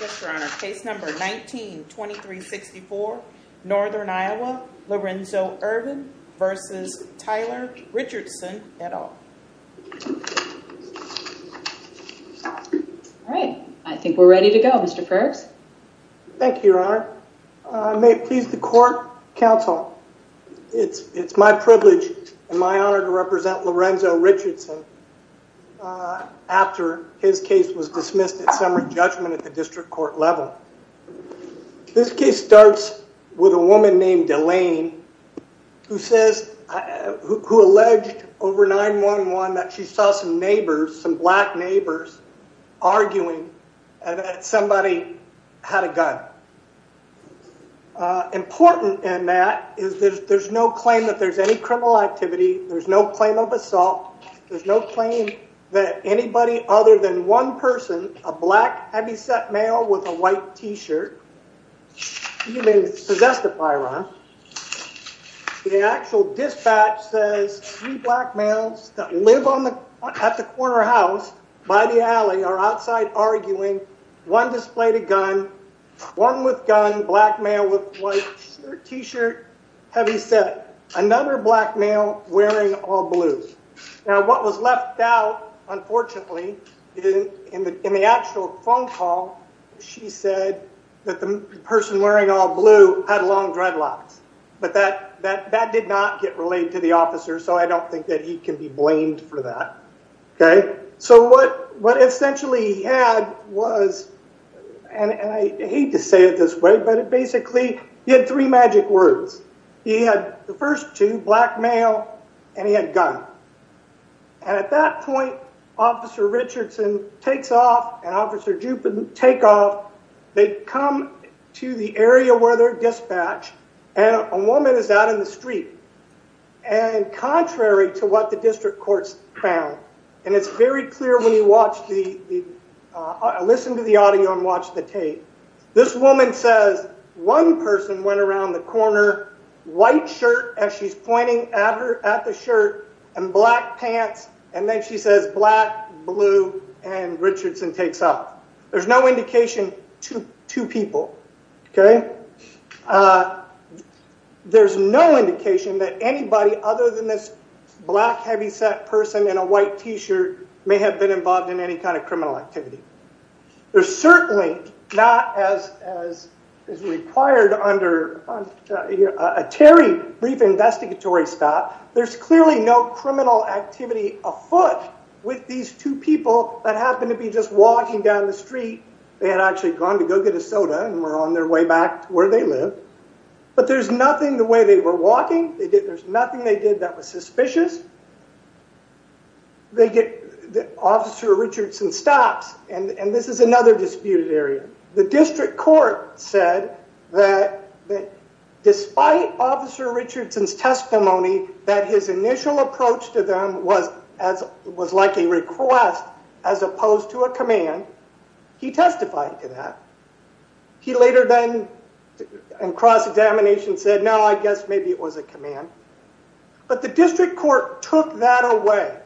Yes, Your Honor. Case number 19-2364, Northern Iowa, Larenzo Irvin v. Tyler Richardson, et al. All right. I think we're ready to go, Mr. Fergs. Thank you, Your Honor. I may please the court counsel. It's my privilege and my honor to represent Larenzo Richardson after his case was dismissed at summary judgment at the district court level. This case starts with a woman named Delaine who says, who alleged over 9-1-1 that she saw some neighbors, some black neighbors, arguing that somebody had a gun. Important in that is there's no claim that there's any criminal activity. There's no claim of assault. There's no claim that anybody other than one person, a black heavyset male with a white t-shirt. You may possess the firearm. The actual dispatch says three black males that live at the corner house by the alley are outside arguing, one displayed a gun, one with gun, black male with white t-shirt, heavyset, another black male wearing all blue. Now, what was left out, unfortunately, in the actual phone call, she said that the person wearing all blue had long dreadlocks. But that did not get relayed to the officer, so I don't think that he can be blamed for that. Okay, so what essentially he had was, and I hate to say it this way, but it basically, he had three magic words. He had the first two, black male, and he had gun. And at that point, Officer Richardson takes off and Officer Jupin take off. They come to the area where they're and it's very clear when you watch the, listen to the audio and watch the tape. This woman says, one person went around the corner, white shirt as she's pointing at her at the shirt, and black pants, and then she says, black, blue, and Richardson takes off. There's no indication, two people. Okay, there's no indication that anybody other than this black heavyset person and a white t-shirt may have been involved in any kind of criminal activity. There's certainly not, as is required under a Terry brief investigatory stop, there's clearly no criminal activity afoot with these two people that happen to be just walking down the street. They had actually gone to go get a soda and were on their way back to where they live, but there's nothing the way they were walking. There's nothing they did that was suspicious. They get Officer Richardson stops, and this is another disputed area. The district court said that despite Officer Richardson's testimony, that his initial approach to them was like a request as opposed to a command. He testified to that. He later then in cross-examination said, I guess maybe it was a command, but the district court took that away.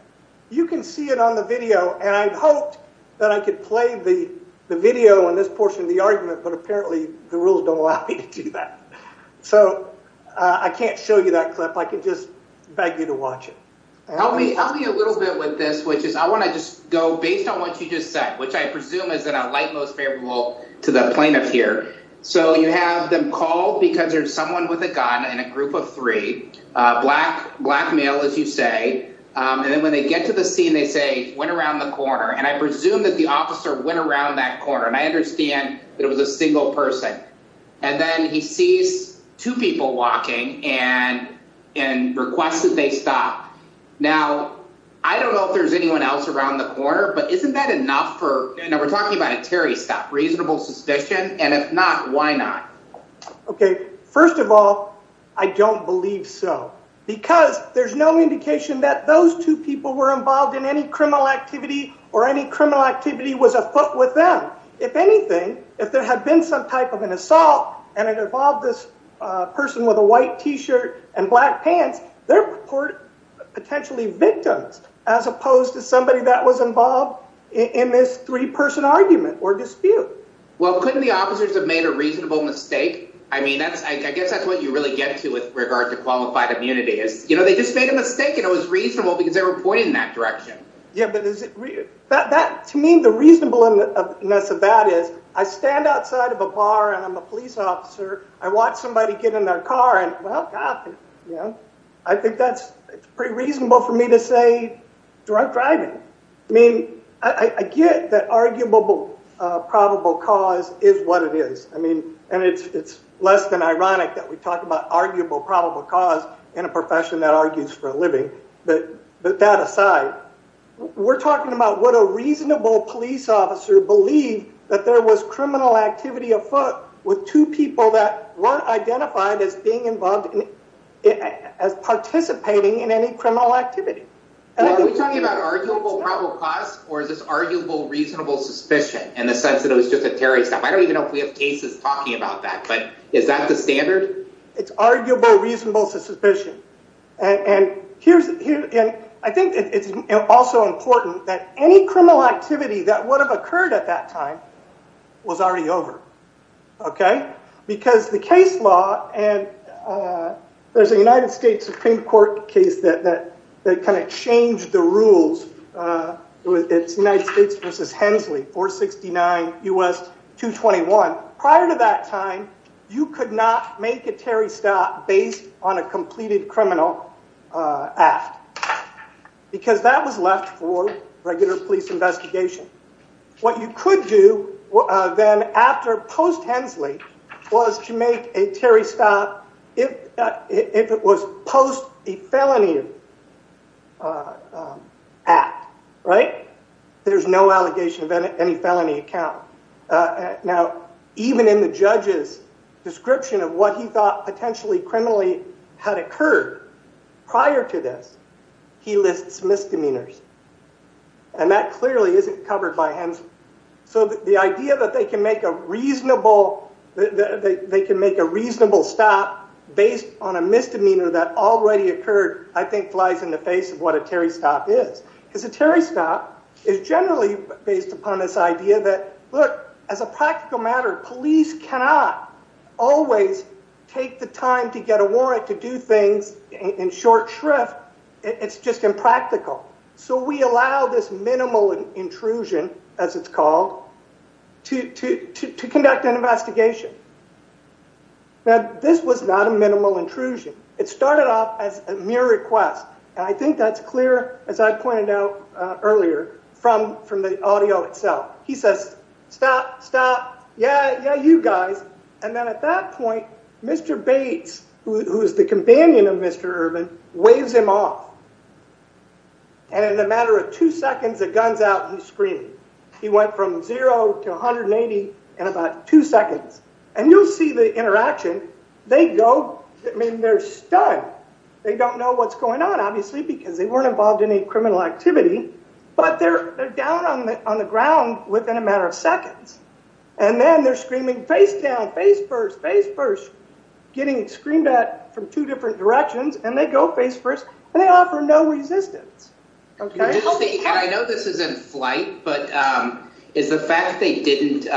You can see it on the video, and I'd hoped that I could play the video on this portion of the argument, but apparently the rules don't allow me to do that, so I can't show you that clip. I can just beg you to watch it. Help me a little bit with this, which is I want to just go based on what you just said, which I presume is in a light most favorable to the plaintiff here, so you have them called because there's someone with a gun in a group of three, black male, as you say, and then when they get to the scene, they say went around the corner, and I presume that the officer went around that corner, and I understand that it was a single person, and then he sees two people walking and requests that they stop. Now, I don't know if there's anyone else around the corner, but isn't that enough for, you know, we're talking about a Terry stop, reasonable suspicion, and if not, why not? Okay, first of all, I don't believe so because there's no indication that those two people were involved in any criminal activity or any criminal activity was afoot with them. If anything, if there had been some type of an assault and it involved this person with a white t-shirt and black pants, they're potentially victims as opposed to somebody that was involved in this three-person argument or dispute. Well, couldn't the officers have made a reasonable mistake? I mean, I guess that's what you really get to with regard to qualified immunity is, you know, they just made a mistake and it was reasonable because they were pointing in that direction. Yeah, but to me, the reasonableness of that is I stand outside of a bar and I'm a police officer, I watch somebody get in their car, and well, god, you know, I think that's pretty reasonable for me to say drunk driving. I mean, I get that arguable probable cause is what it is. I mean, and it's less than ironic that we talk about arguable probable cause in a profession that argues for a living, but that aside, we're talking about what a reasonable police officer believed that there was criminal activity afoot with two people that weren't identified as being criminal activity. So are we talking about arguable probable cause or is this arguable reasonable suspicion in the sense that it was just a terrorist attack? I don't even know if we have cases talking about that, but is that the standard? It's arguable reasonable suspicion, and I think it's also important that any criminal activity that would have occurred at that time was already over, okay? Because the case law, and there's a United States Supreme Court case that kind of changed the rules. It's United States versus Hensley, 469 U.S. 221. Prior to that time, you could not make a Terry stop based on a completed criminal act because that was left for regular police investigation. What you could do then after post-Hensley was to make a Terry stop if it was post a felony act, right? There's no allegation of any felony account. Now, even in the judge's description of what he thought potentially criminally had occurred prior to this, he lists misdemeanors, and that clearly isn't covered by Hensley. So the idea that they can make a reasonable stop based on a misdemeanor that already occurred, I think, flies in the face of what a Terry stop is because a Terry stop is generally based upon this idea that, look, as a practical matter, police cannot always take the time to get a warrant to do things in short shrift. It's just impractical. So we allow this minimal intrusion, as it's called, to conduct an investigation. Now, this was not a minimal intrusion. It started off as a mere request, and I think that's clear, as I pointed out earlier, from the audio itself. He says, stop, stop, yeah, yeah, you know. And in a matter of two seconds, the gun's out and he's screaming. He went from zero to 180 in about two seconds. And you'll see the interaction. They go, I mean, they're stunned. They don't know what's going on, obviously, because they weren't involved in any criminal activity, but they're down on the ground within a matter of seconds. And then they're screaming, face down, face first, face first, getting screamed at from two different directions. And they go face first, and they offer no resistance. I know this is in flight, but is the fact that they didn't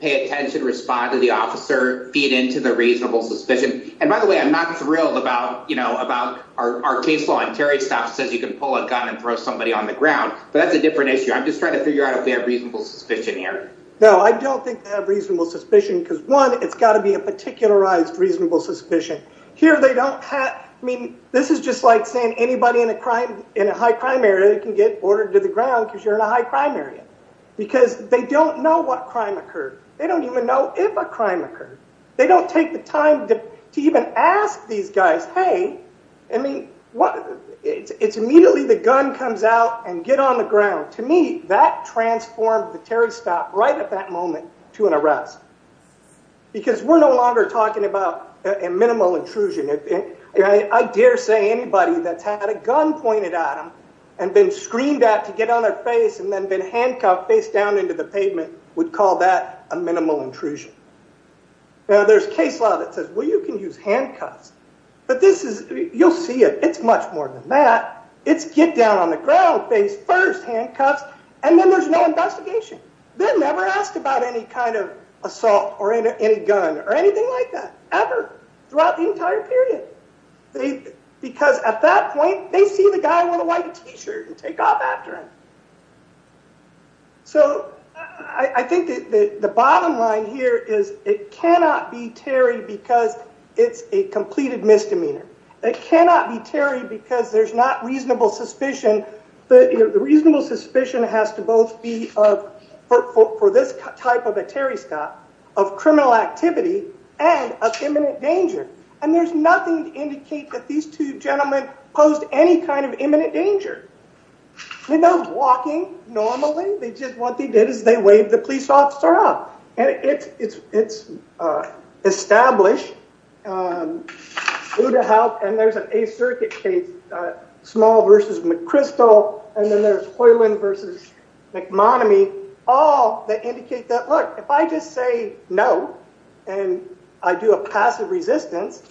pay attention, respond to the officer, feed into the reasonable suspicion? And by the way, I'm not thrilled about, you know, about our case law. Terry stops, says you can pull a gun and throw somebody on the ground. But that's a different issue. I'm just trying to figure out if we have reasonable suspicion here. No, I don't think they have reasonable suspicion, because one, it's got to be a particularized reasonable suspicion. Here, they don't have, I mean, this is just like saying anybody in a crime, in a high crime area can get boarded to the ground because you're in a high crime area, because they don't know what crime occurred. They don't even know if a crime occurred. They don't take the time to even ask these guys, hey, I mean, it's immediately the gun comes out and get on the ground. To me, that transformed the Terry stop right at that moment to an arrest, because we're no longer talking about a minimal intrusion. I dare say anybody that's had a gun pointed at them and been screamed at to get on their face and then been handcuffed face down into the pavement would call that a minimal intrusion. Now, there's case law that says, well, you can use handcuffs. But this is, you'll see it, it's much more than that. It's get down the ground, face first, handcuffs, and then there's no investigation. They're never asked about any kind of assault or any gun or anything like that ever throughout the entire period. Because at that point, they see the guy with a white t-shirt and take off after him. So I think the bottom line here is it cannot be Terry because it's a completed misdemeanor. It cannot be Terry because there's not reasonable suspicion, but the reasonable suspicion has to both be for this type of a Terry stop of criminal activity and of imminent danger. And there's nothing to indicate that these two gentlemen posed any kind of imminent danger. They're not walking normally. They just, what they did is they waved the police officer up. And it's established that there's an A circuit case, small versus McChrystal. And then there's Hoyland versus McMonomy, all that indicate that, look, if I just say no, and I do a passive resistance.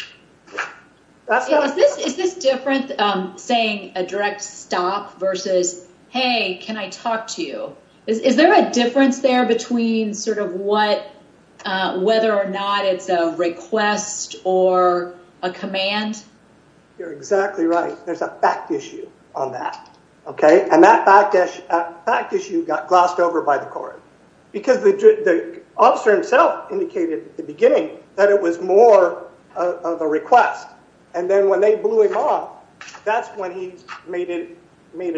Is this different saying a direct stop versus, hey, can I talk to you? Is there a difference there between sort of what, whether or not it's a request or a command? You're exactly right. There's a fact issue on that. Okay. And that fact issue got glossed over by the court because the officer himself indicated at the beginning that it was more of a request. And then when they blew him off, that's when he made it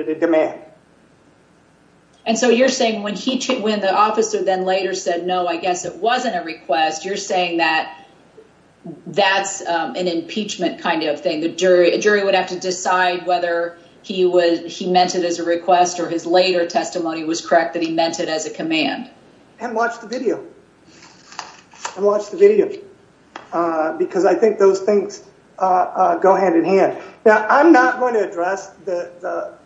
a demand. Okay. And so you're saying when he, when the officer then later said, no, I guess it wasn't a request. You're saying that that's an impeachment kind of thing. The jury, a jury would have to decide whether he was, he meant it as a request or his later testimony was correct that he meant it as a command. And watch the video and watch the video because I think those things go hand in hand. Now, I'm not going to address the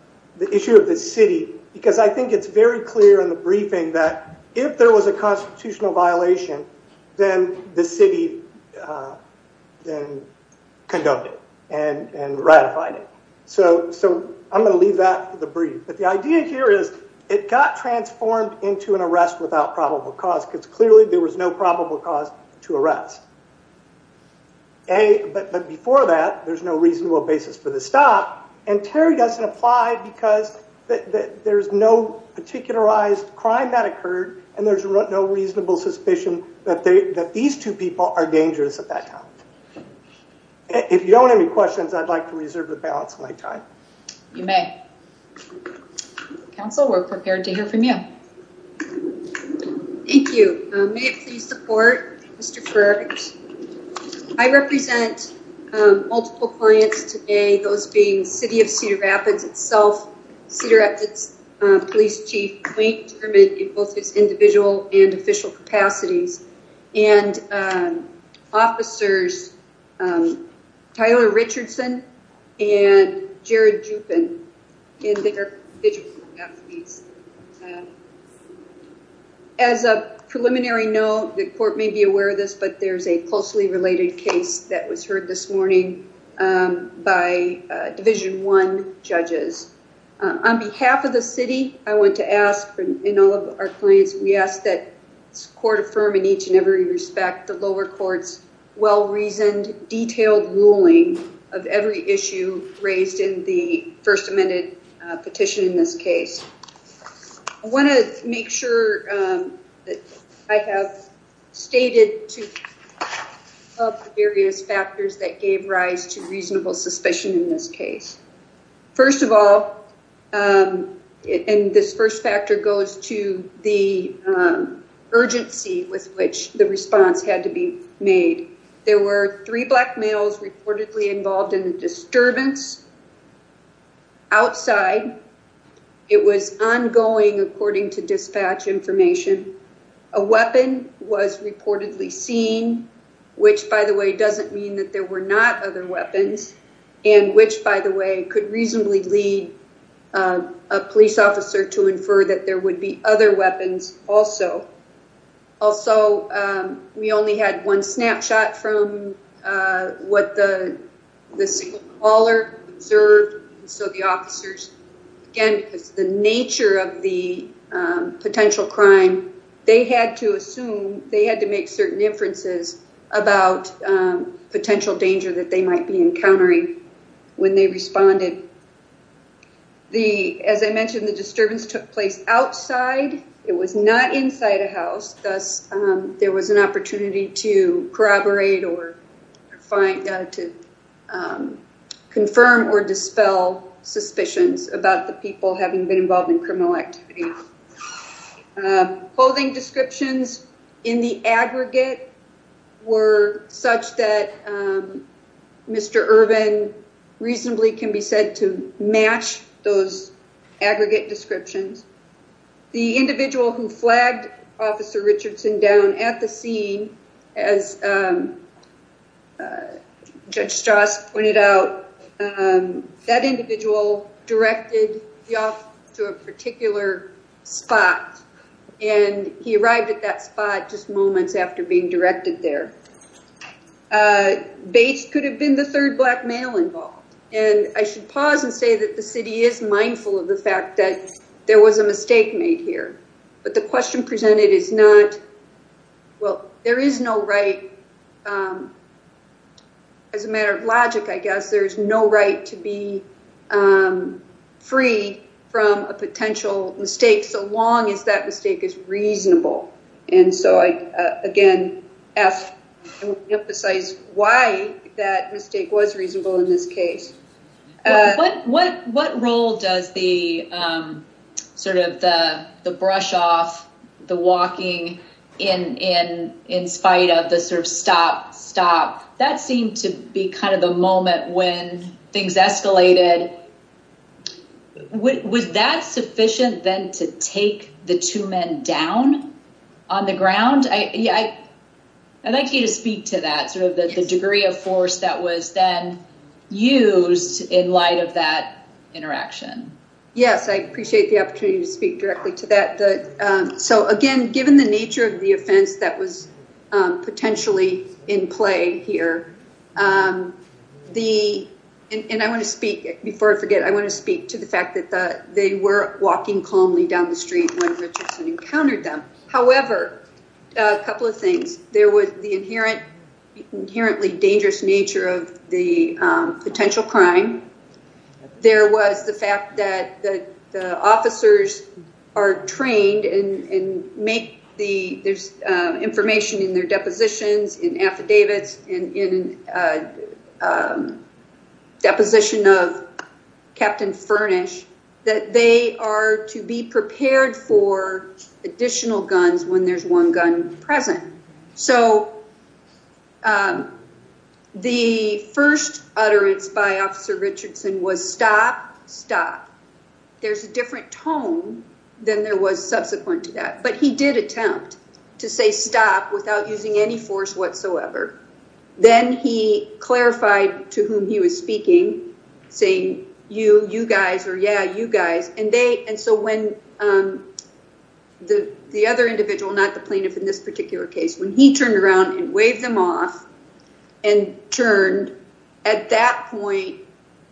issue of the city because I think it's very clear in the briefing that if there was a constitutional violation, then the city then condoned it and ratified it. So I'm going to leave that for the brief. But the idea here is it got transformed into an arrest without probable cause because clearly there was no probable cause to arrest. A, but before that, there's no reasonable basis for the stop. And Terry doesn't apply because there's no particularized crime that occurred and there's no reasonable suspicion that they, that these two people are dangerous at that time. If you don't have any questions, I'd like to reserve the balance of my time. You may. Council, we're prepared to hear from you. Thank you. May I please support Mr. Fergus? I represent multiple clients today, those being City of Cedar Rapids itself, Cedar Rapids Police Chief, Wayne Dermott in both his individual and official capacities and officers, Tyler Richardson and Jared Juppin in their official capacities. As a preliminary note, the court may be aware of this, but there's a closely related case that was heard this morning by Division I judges. On behalf of the city, I want to ask, in all of our clients, we ask that this court affirm in each and every respect the lower court's well-reasoned, detailed ruling of every issue raised in the first amended petition in this case. I want to make sure that I have stated two of the various factors that gave rise to reasonable suspicion in this case. First of all, and this first factor goes to the urgency with which the response had to be made, there were three black males reportedly involved in a disturbance outside. It was ongoing according to dispatch information. A weapon was reportedly seen, which by the way doesn't mean that there were not other weapons, and which by the way could reasonably lead a police officer to infer that there would be other weapons also. Also, we only had one snapshot from what the signal caller observed, so the officers, again because the nature of the potential crime, they had to assume, they had to make certain inferences about potential danger that they might be encountering when they responded. The, as I mentioned, the disturbance took place outside. It was not inside a house, thus there was an opportunity to corroborate or find, to confirm or dispel suspicions about the people having been involved in criminal activities. Clothing descriptions in the aggregate were such that Mr. Irvin reasonably can be said to match those aggregate descriptions. The individual who flagged Officer Richardson down at the scene, as Judge Strauss pointed out, that individual directed the officer to a particular spot, and he arrived at that spot just moments after being directed there. Bates could have been the third black male involved, and I should pause and say that the city is mindful of the fact that there was a mistake made here, but the question presented is not, well, there is no right, as a matter of logic, I guess, there is no right to be free from a potential mistake so long as that mistake is again asked to emphasize why that mistake was reasonable in this case. What role does the sort of the brush off, the walking in spite of the sort of stop, stop, that seemed to be kind of the moment when things escalated. Was that sufficient then to take the two men down on the ground? I'd like you to speak to that, sort of the degree of force that was then used in light of that interaction. Yes, I appreciate the opportunity to speak directly to that. So again, given the nature of the offense that was potentially in play here, and I want to speak, before I forget, I want to speak to the fact that they were walking calmly down the street when Richardson encountered them. However, a couple of things, there was the inherently dangerous nature of the potential crime. There was the fact that the officers are trained and make the information in their depositions, in affidavits, in a deposition of Captain Furnish, that they are to be prepared for additional guns when there's one gun present. So, the first utterance by Officer Richardson was stop, stop. There's a different tone than there was subsequent to that, but he did attempt to say stop without using any force whatsoever. Then he clarified to whom he was speaking, saying you, you guys, or yeah, you guys. And so, when the other individual, not the plaintiff in this particular case, when he turned around and waved them off and turned, at that point,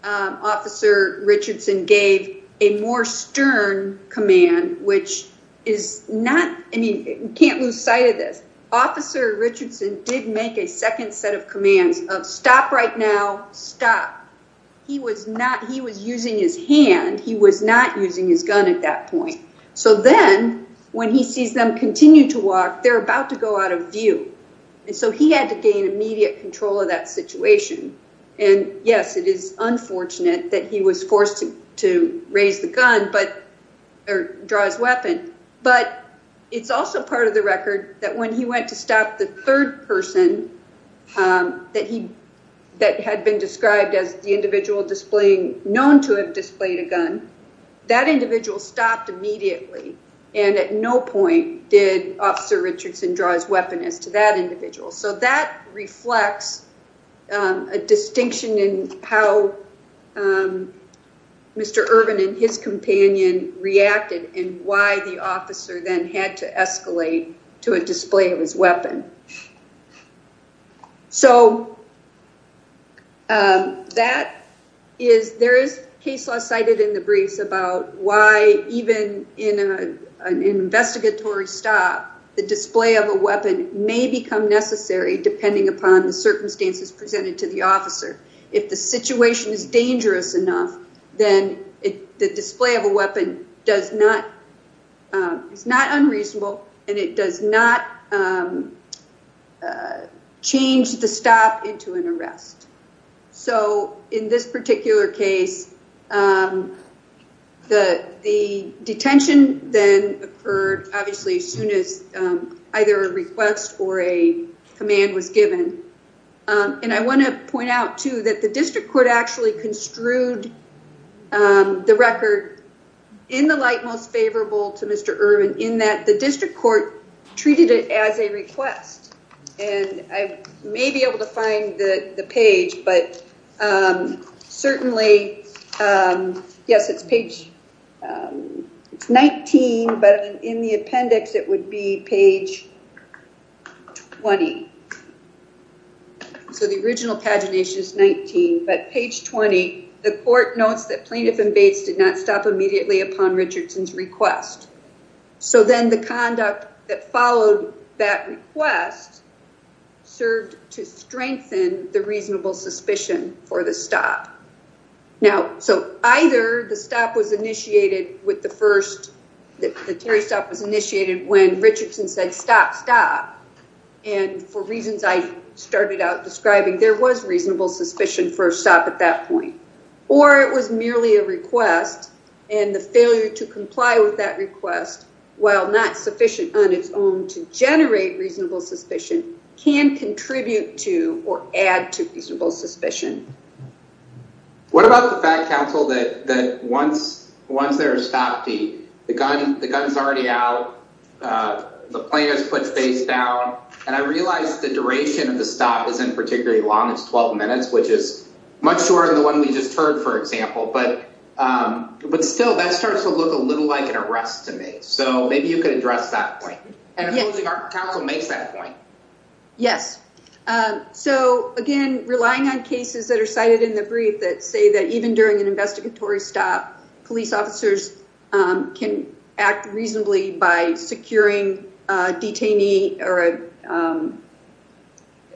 Officer Richardson gave a more stern command, which is not, I mean, you can't lose sight of this. Officer Richardson did make a second set of commands of stop right now, stop. He was not, he was using his hand. He was not using his gun at that point. So then, when he sees them continue to walk, they're about to go out of view. And so, he had to gain immediate control of that situation. And yes, it is unfortunate that he was forced to raise the gun, but, or draw his weapon. But it's also part of the record that when he went to stop the third person that he, that had been described as the individual displaying, known to have displayed a gun, that individual stopped immediately. And at no point did Officer Richardson draw his weapon as to that individual. So, that had to escalate to a display of his weapon. So, that is, there is case law cited in the briefs about why even in an investigatory stop, the display of a weapon may become necessary, depending upon the circumstances presented to the officer. If the situation is dangerous enough, then the display of a weapon does not, it's not unreasonable, and it does not change the stop into an arrest. So, in this particular case, the detention then occurred, obviously, as soon as either a request or a command was given. And I want to point out, too, that the district court actually construed the record in the light most favorable to Mr. Ervin, in that the district court treated it as a request. And I may be able to find the page, but certainly, yes, it's page 19, but in the appendix, it would be page 20. So, the original pagination is 19, but page 20, the court notes that plaintiff and Bates did not stop immediately upon Richardson's request. So, then the conduct that followed that request served to strengthen the reasonable suspicion for the stop. Now, so, either the stop was initiated with the first, the Terry stop was initiated when Richardson said, stop, stop, and for reasons I started out describing, there was reasonable suspicion for a stop at that point, or it was merely a request, and the failure to comply with that request, while not sufficient on its own to generate reasonable suspicion, can contribute to or add to reasonable suspicion. What about the fact, counsel, that once there is a stop, the gun is already out, the plaintiff's put face down, and I realize the duration of the stop isn't particularly long, it's 12 minutes, which is much shorter than the one we just heard, for example, but still, that starts to look a little like an arrest to me. So, maybe you could address that point, and I'm hoping our counsel makes that point. Yes. So, again, relying on cases that are cited in the brief that say that even during an investigatory stop, police officers can act reasonably by securing a detainee or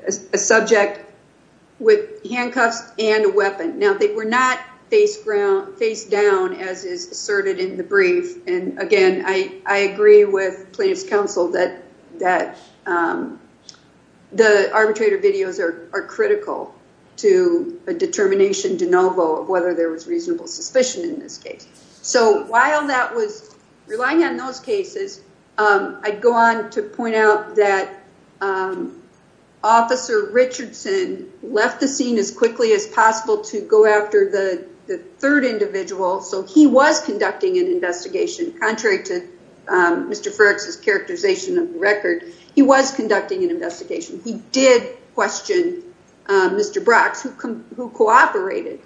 a subject with handcuffs and a weapon. Now, they were not face down as is asserted in the brief, and again, I agree with plaintiff's counsel that the arbitrator videos are critical to a determination de novo of whether there was relying on those cases. I'd go on to point out that Officer Richardson left the scene as quickly as possible to go after the third individual, so he was conducting an investigation. Contrary to Mr. Frerichs' characterization of the record, he was conducting an investigation. He did question Mr. Brocks, who cooperated,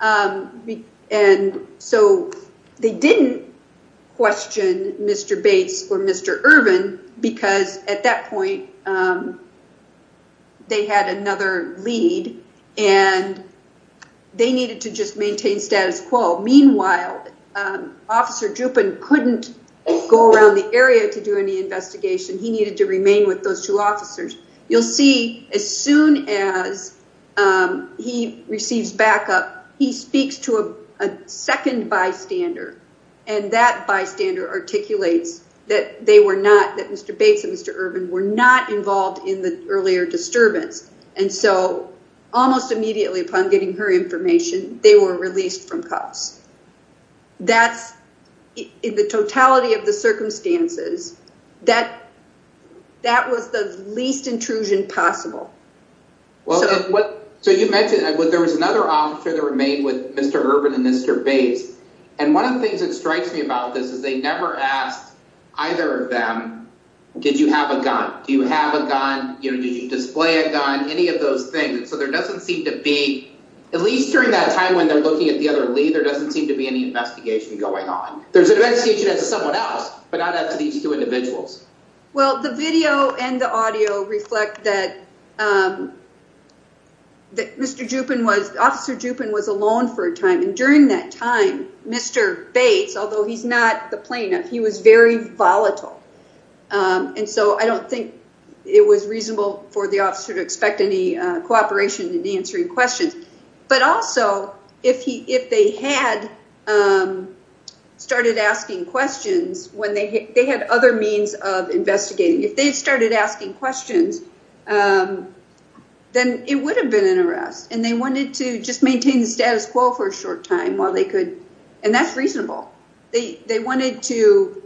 and so they didn't question Mr. Bates or Mr. Irvin, because at that point, they had another lead, and they needed to just maintain status quo. Meanwhile, Officer Drupin couldn't go around the area to do any investigation. He needed to remain with those officers. You'll see as soon as he receives backup, he speaks to a second bystander, and that bystander articulates that Mr. Bates and Mr. Irvin were not involved in the earlier disturbance, and so almost immediately upon getting her information, they were released from the scene. That was the least intrusion possible. So you mentioned there was another officer that remained with Mr. Irvin and Mr. Bates, and one of the things that strikes me about this is they never asked either of them, did you have a gun? Do you have a gun? Did you display a gun? Any of those things, so there doesn't seem to be, at least during that time when they're looking at the other lead, there doesn't seem to be any investigation going on. There's an investigation of someone else, but not of these two individuals. Well, the video and the audio reflect that Mr. Drupin was, Officer Drupin was alone for a time, and during that time, Mr. Bates, although he's not the plaintiff, he was very volatile, and so I don't think it was reasonable for the officer to expect any cooperation in answering questions. But also, if they had started asking questions, when they had other means of investigating, if they had started asking questions, then it would have been an arrest, and they wanted to just maintain the status quo for a short time while they could, and that's reasonable. They wanted to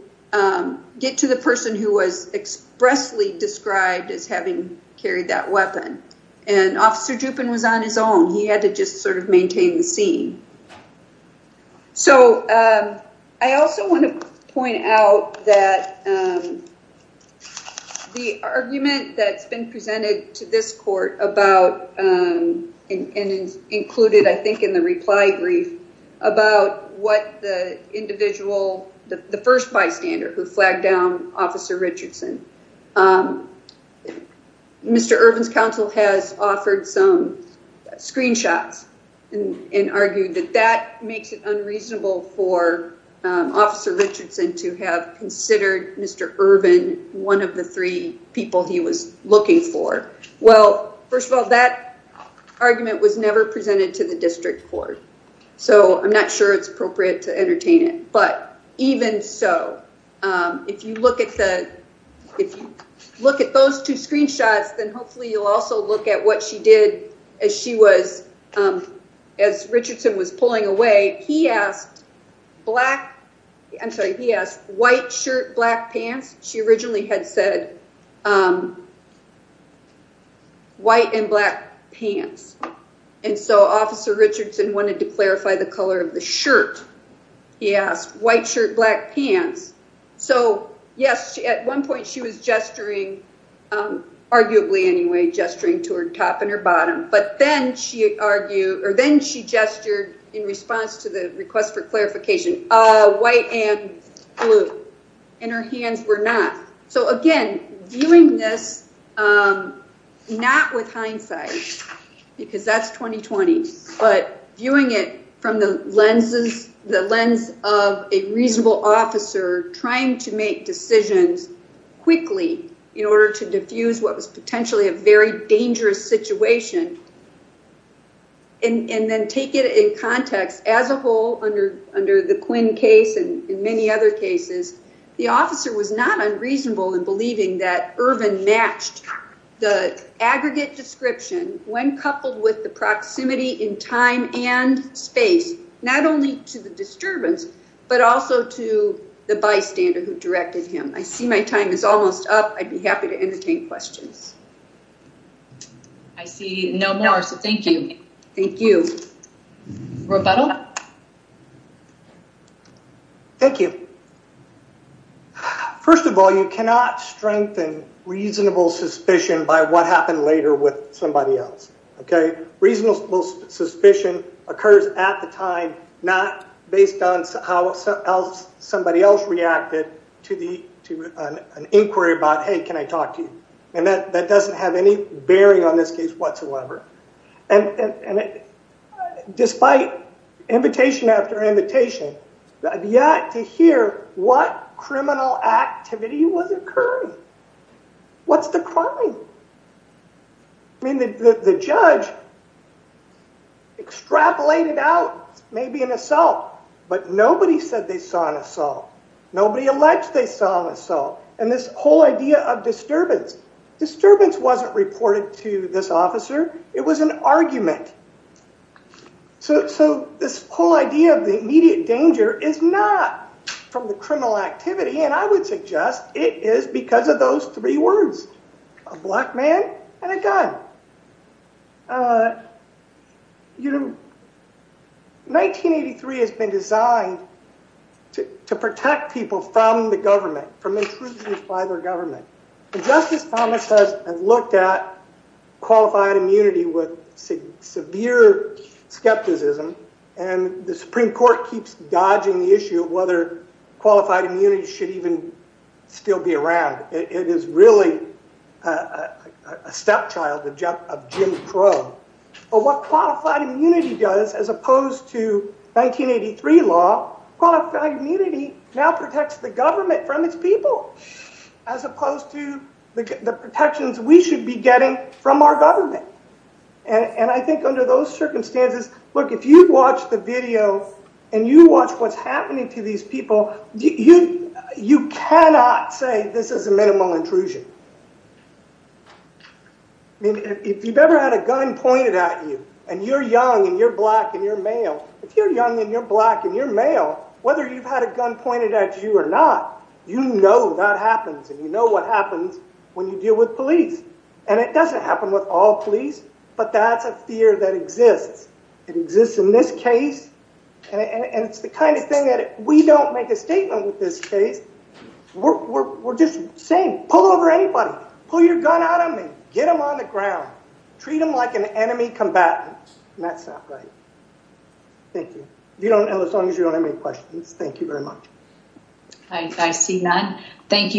get to the person who was expressly described as having carried that weapon, and Officer Drupin was on his own. He had to just sort of maintain the scene. So, I also want to point out that the argument that's been presented to this court about, and is included, I think, in the reply brief, about what the individual, the first bystander who flagged down Officer Richardson. Mr. Irvin's counsel has offered some screenshots and argued that that makes it unreasonable for Officer Richardson to have considered Mr. Irvin one of the three people he was looking for. Well, first of all, that argument was never presented to the district court, so I'm not sure it's appropriate to if you look at the, if you look at those two screenshots, then hopefully you'll also look at what she did as she was, as Richardson was pulling away. He asked black, I'm sorry, he asked white shirt, black pants. She originally had said white and black pants, and so Officer Richardson wanted to clarify the color of the shirt. He asked white shirt, black pants. So, yes, at one point she was gesturing, arguably anyway, gesturing to her top and her bottom, but then she argued, or then she gestured in response to the request for clarification, white and blue, and her hands were not. So, again, viewing this not with hindsight, because that's 2020, but viewing it from the lenses, the lens of a reasonable officer trying to make decisions quickly in order to defuse what was potentially a very dangerous situation and then take it in context as a whole under the Quinn case and in many other cases, the officer was not unreasonable in believing that Irvin matched the aggregate description when coupled with the proximity in time and space, not only to the disturbance, but also to the bystander who directed him. I see my time is almost up. I'd be happy to entertain questions. I see no more, so thank you. Thank you. Roberto? Thank you. First of all, you cannot strengthen reasonable suspicion by what happened later with somebody else, okay? Reasonable suspicion occurs at the time, not based on how somebody else reacted to an inquiry about, hey, can I talk to you? And that doesn't have any bearing on this case despite invitation after invitation, yet to hear what criminal activity was occurring. What's the crime? I mean, the judge extrapolated out maybe an assault, but nobody said they saw an assault. Nobody alleged they saw an assault. And this whole idea of disturbance, disturbance wasn't reported to this officer. It was an argument. So this whole idea of the immediate danger is not from the criminal activity, and I would suggest it is because of those three words, a black man and a gun. You know, 1983 has been designed to protect people from the government, from intrusions by their government. Justice Thomas has looked at qualified immunity with severe skepticism, and the Supreme Court keeps dodging the issue of whether qualified immunity should even still be around. It is really a stepchild of Jim Crow. But what qualified immunity does, as opposed to 1983 law, qualified immunity now protects the government from its people, as opposed to the protections we should be getting from our government. And I think under those circumstances, look, if you watch the video and you watch what's happening to these people, you cannot say this is a minimal intrusion. I mean, if you've ever had a gun pointed at you, and you're young and you're black and you're male, if you're young and you're black and you're male, whether you've had a gun pointed at you or not, you know that happens, and you know what happens when you deal with police. And it doesn't happen with all police, but that's a fear that exists. It exists in this case, and it's the kind of thing that we don't make a statement with this case. We're just saying, pull over anybody, pull your gun out on me, get them on the ground, treat them like an enemy combatant, and that's not right. Thank you. You don't know as long as you don't have any questions. Thank you very much. I see none. Thank you.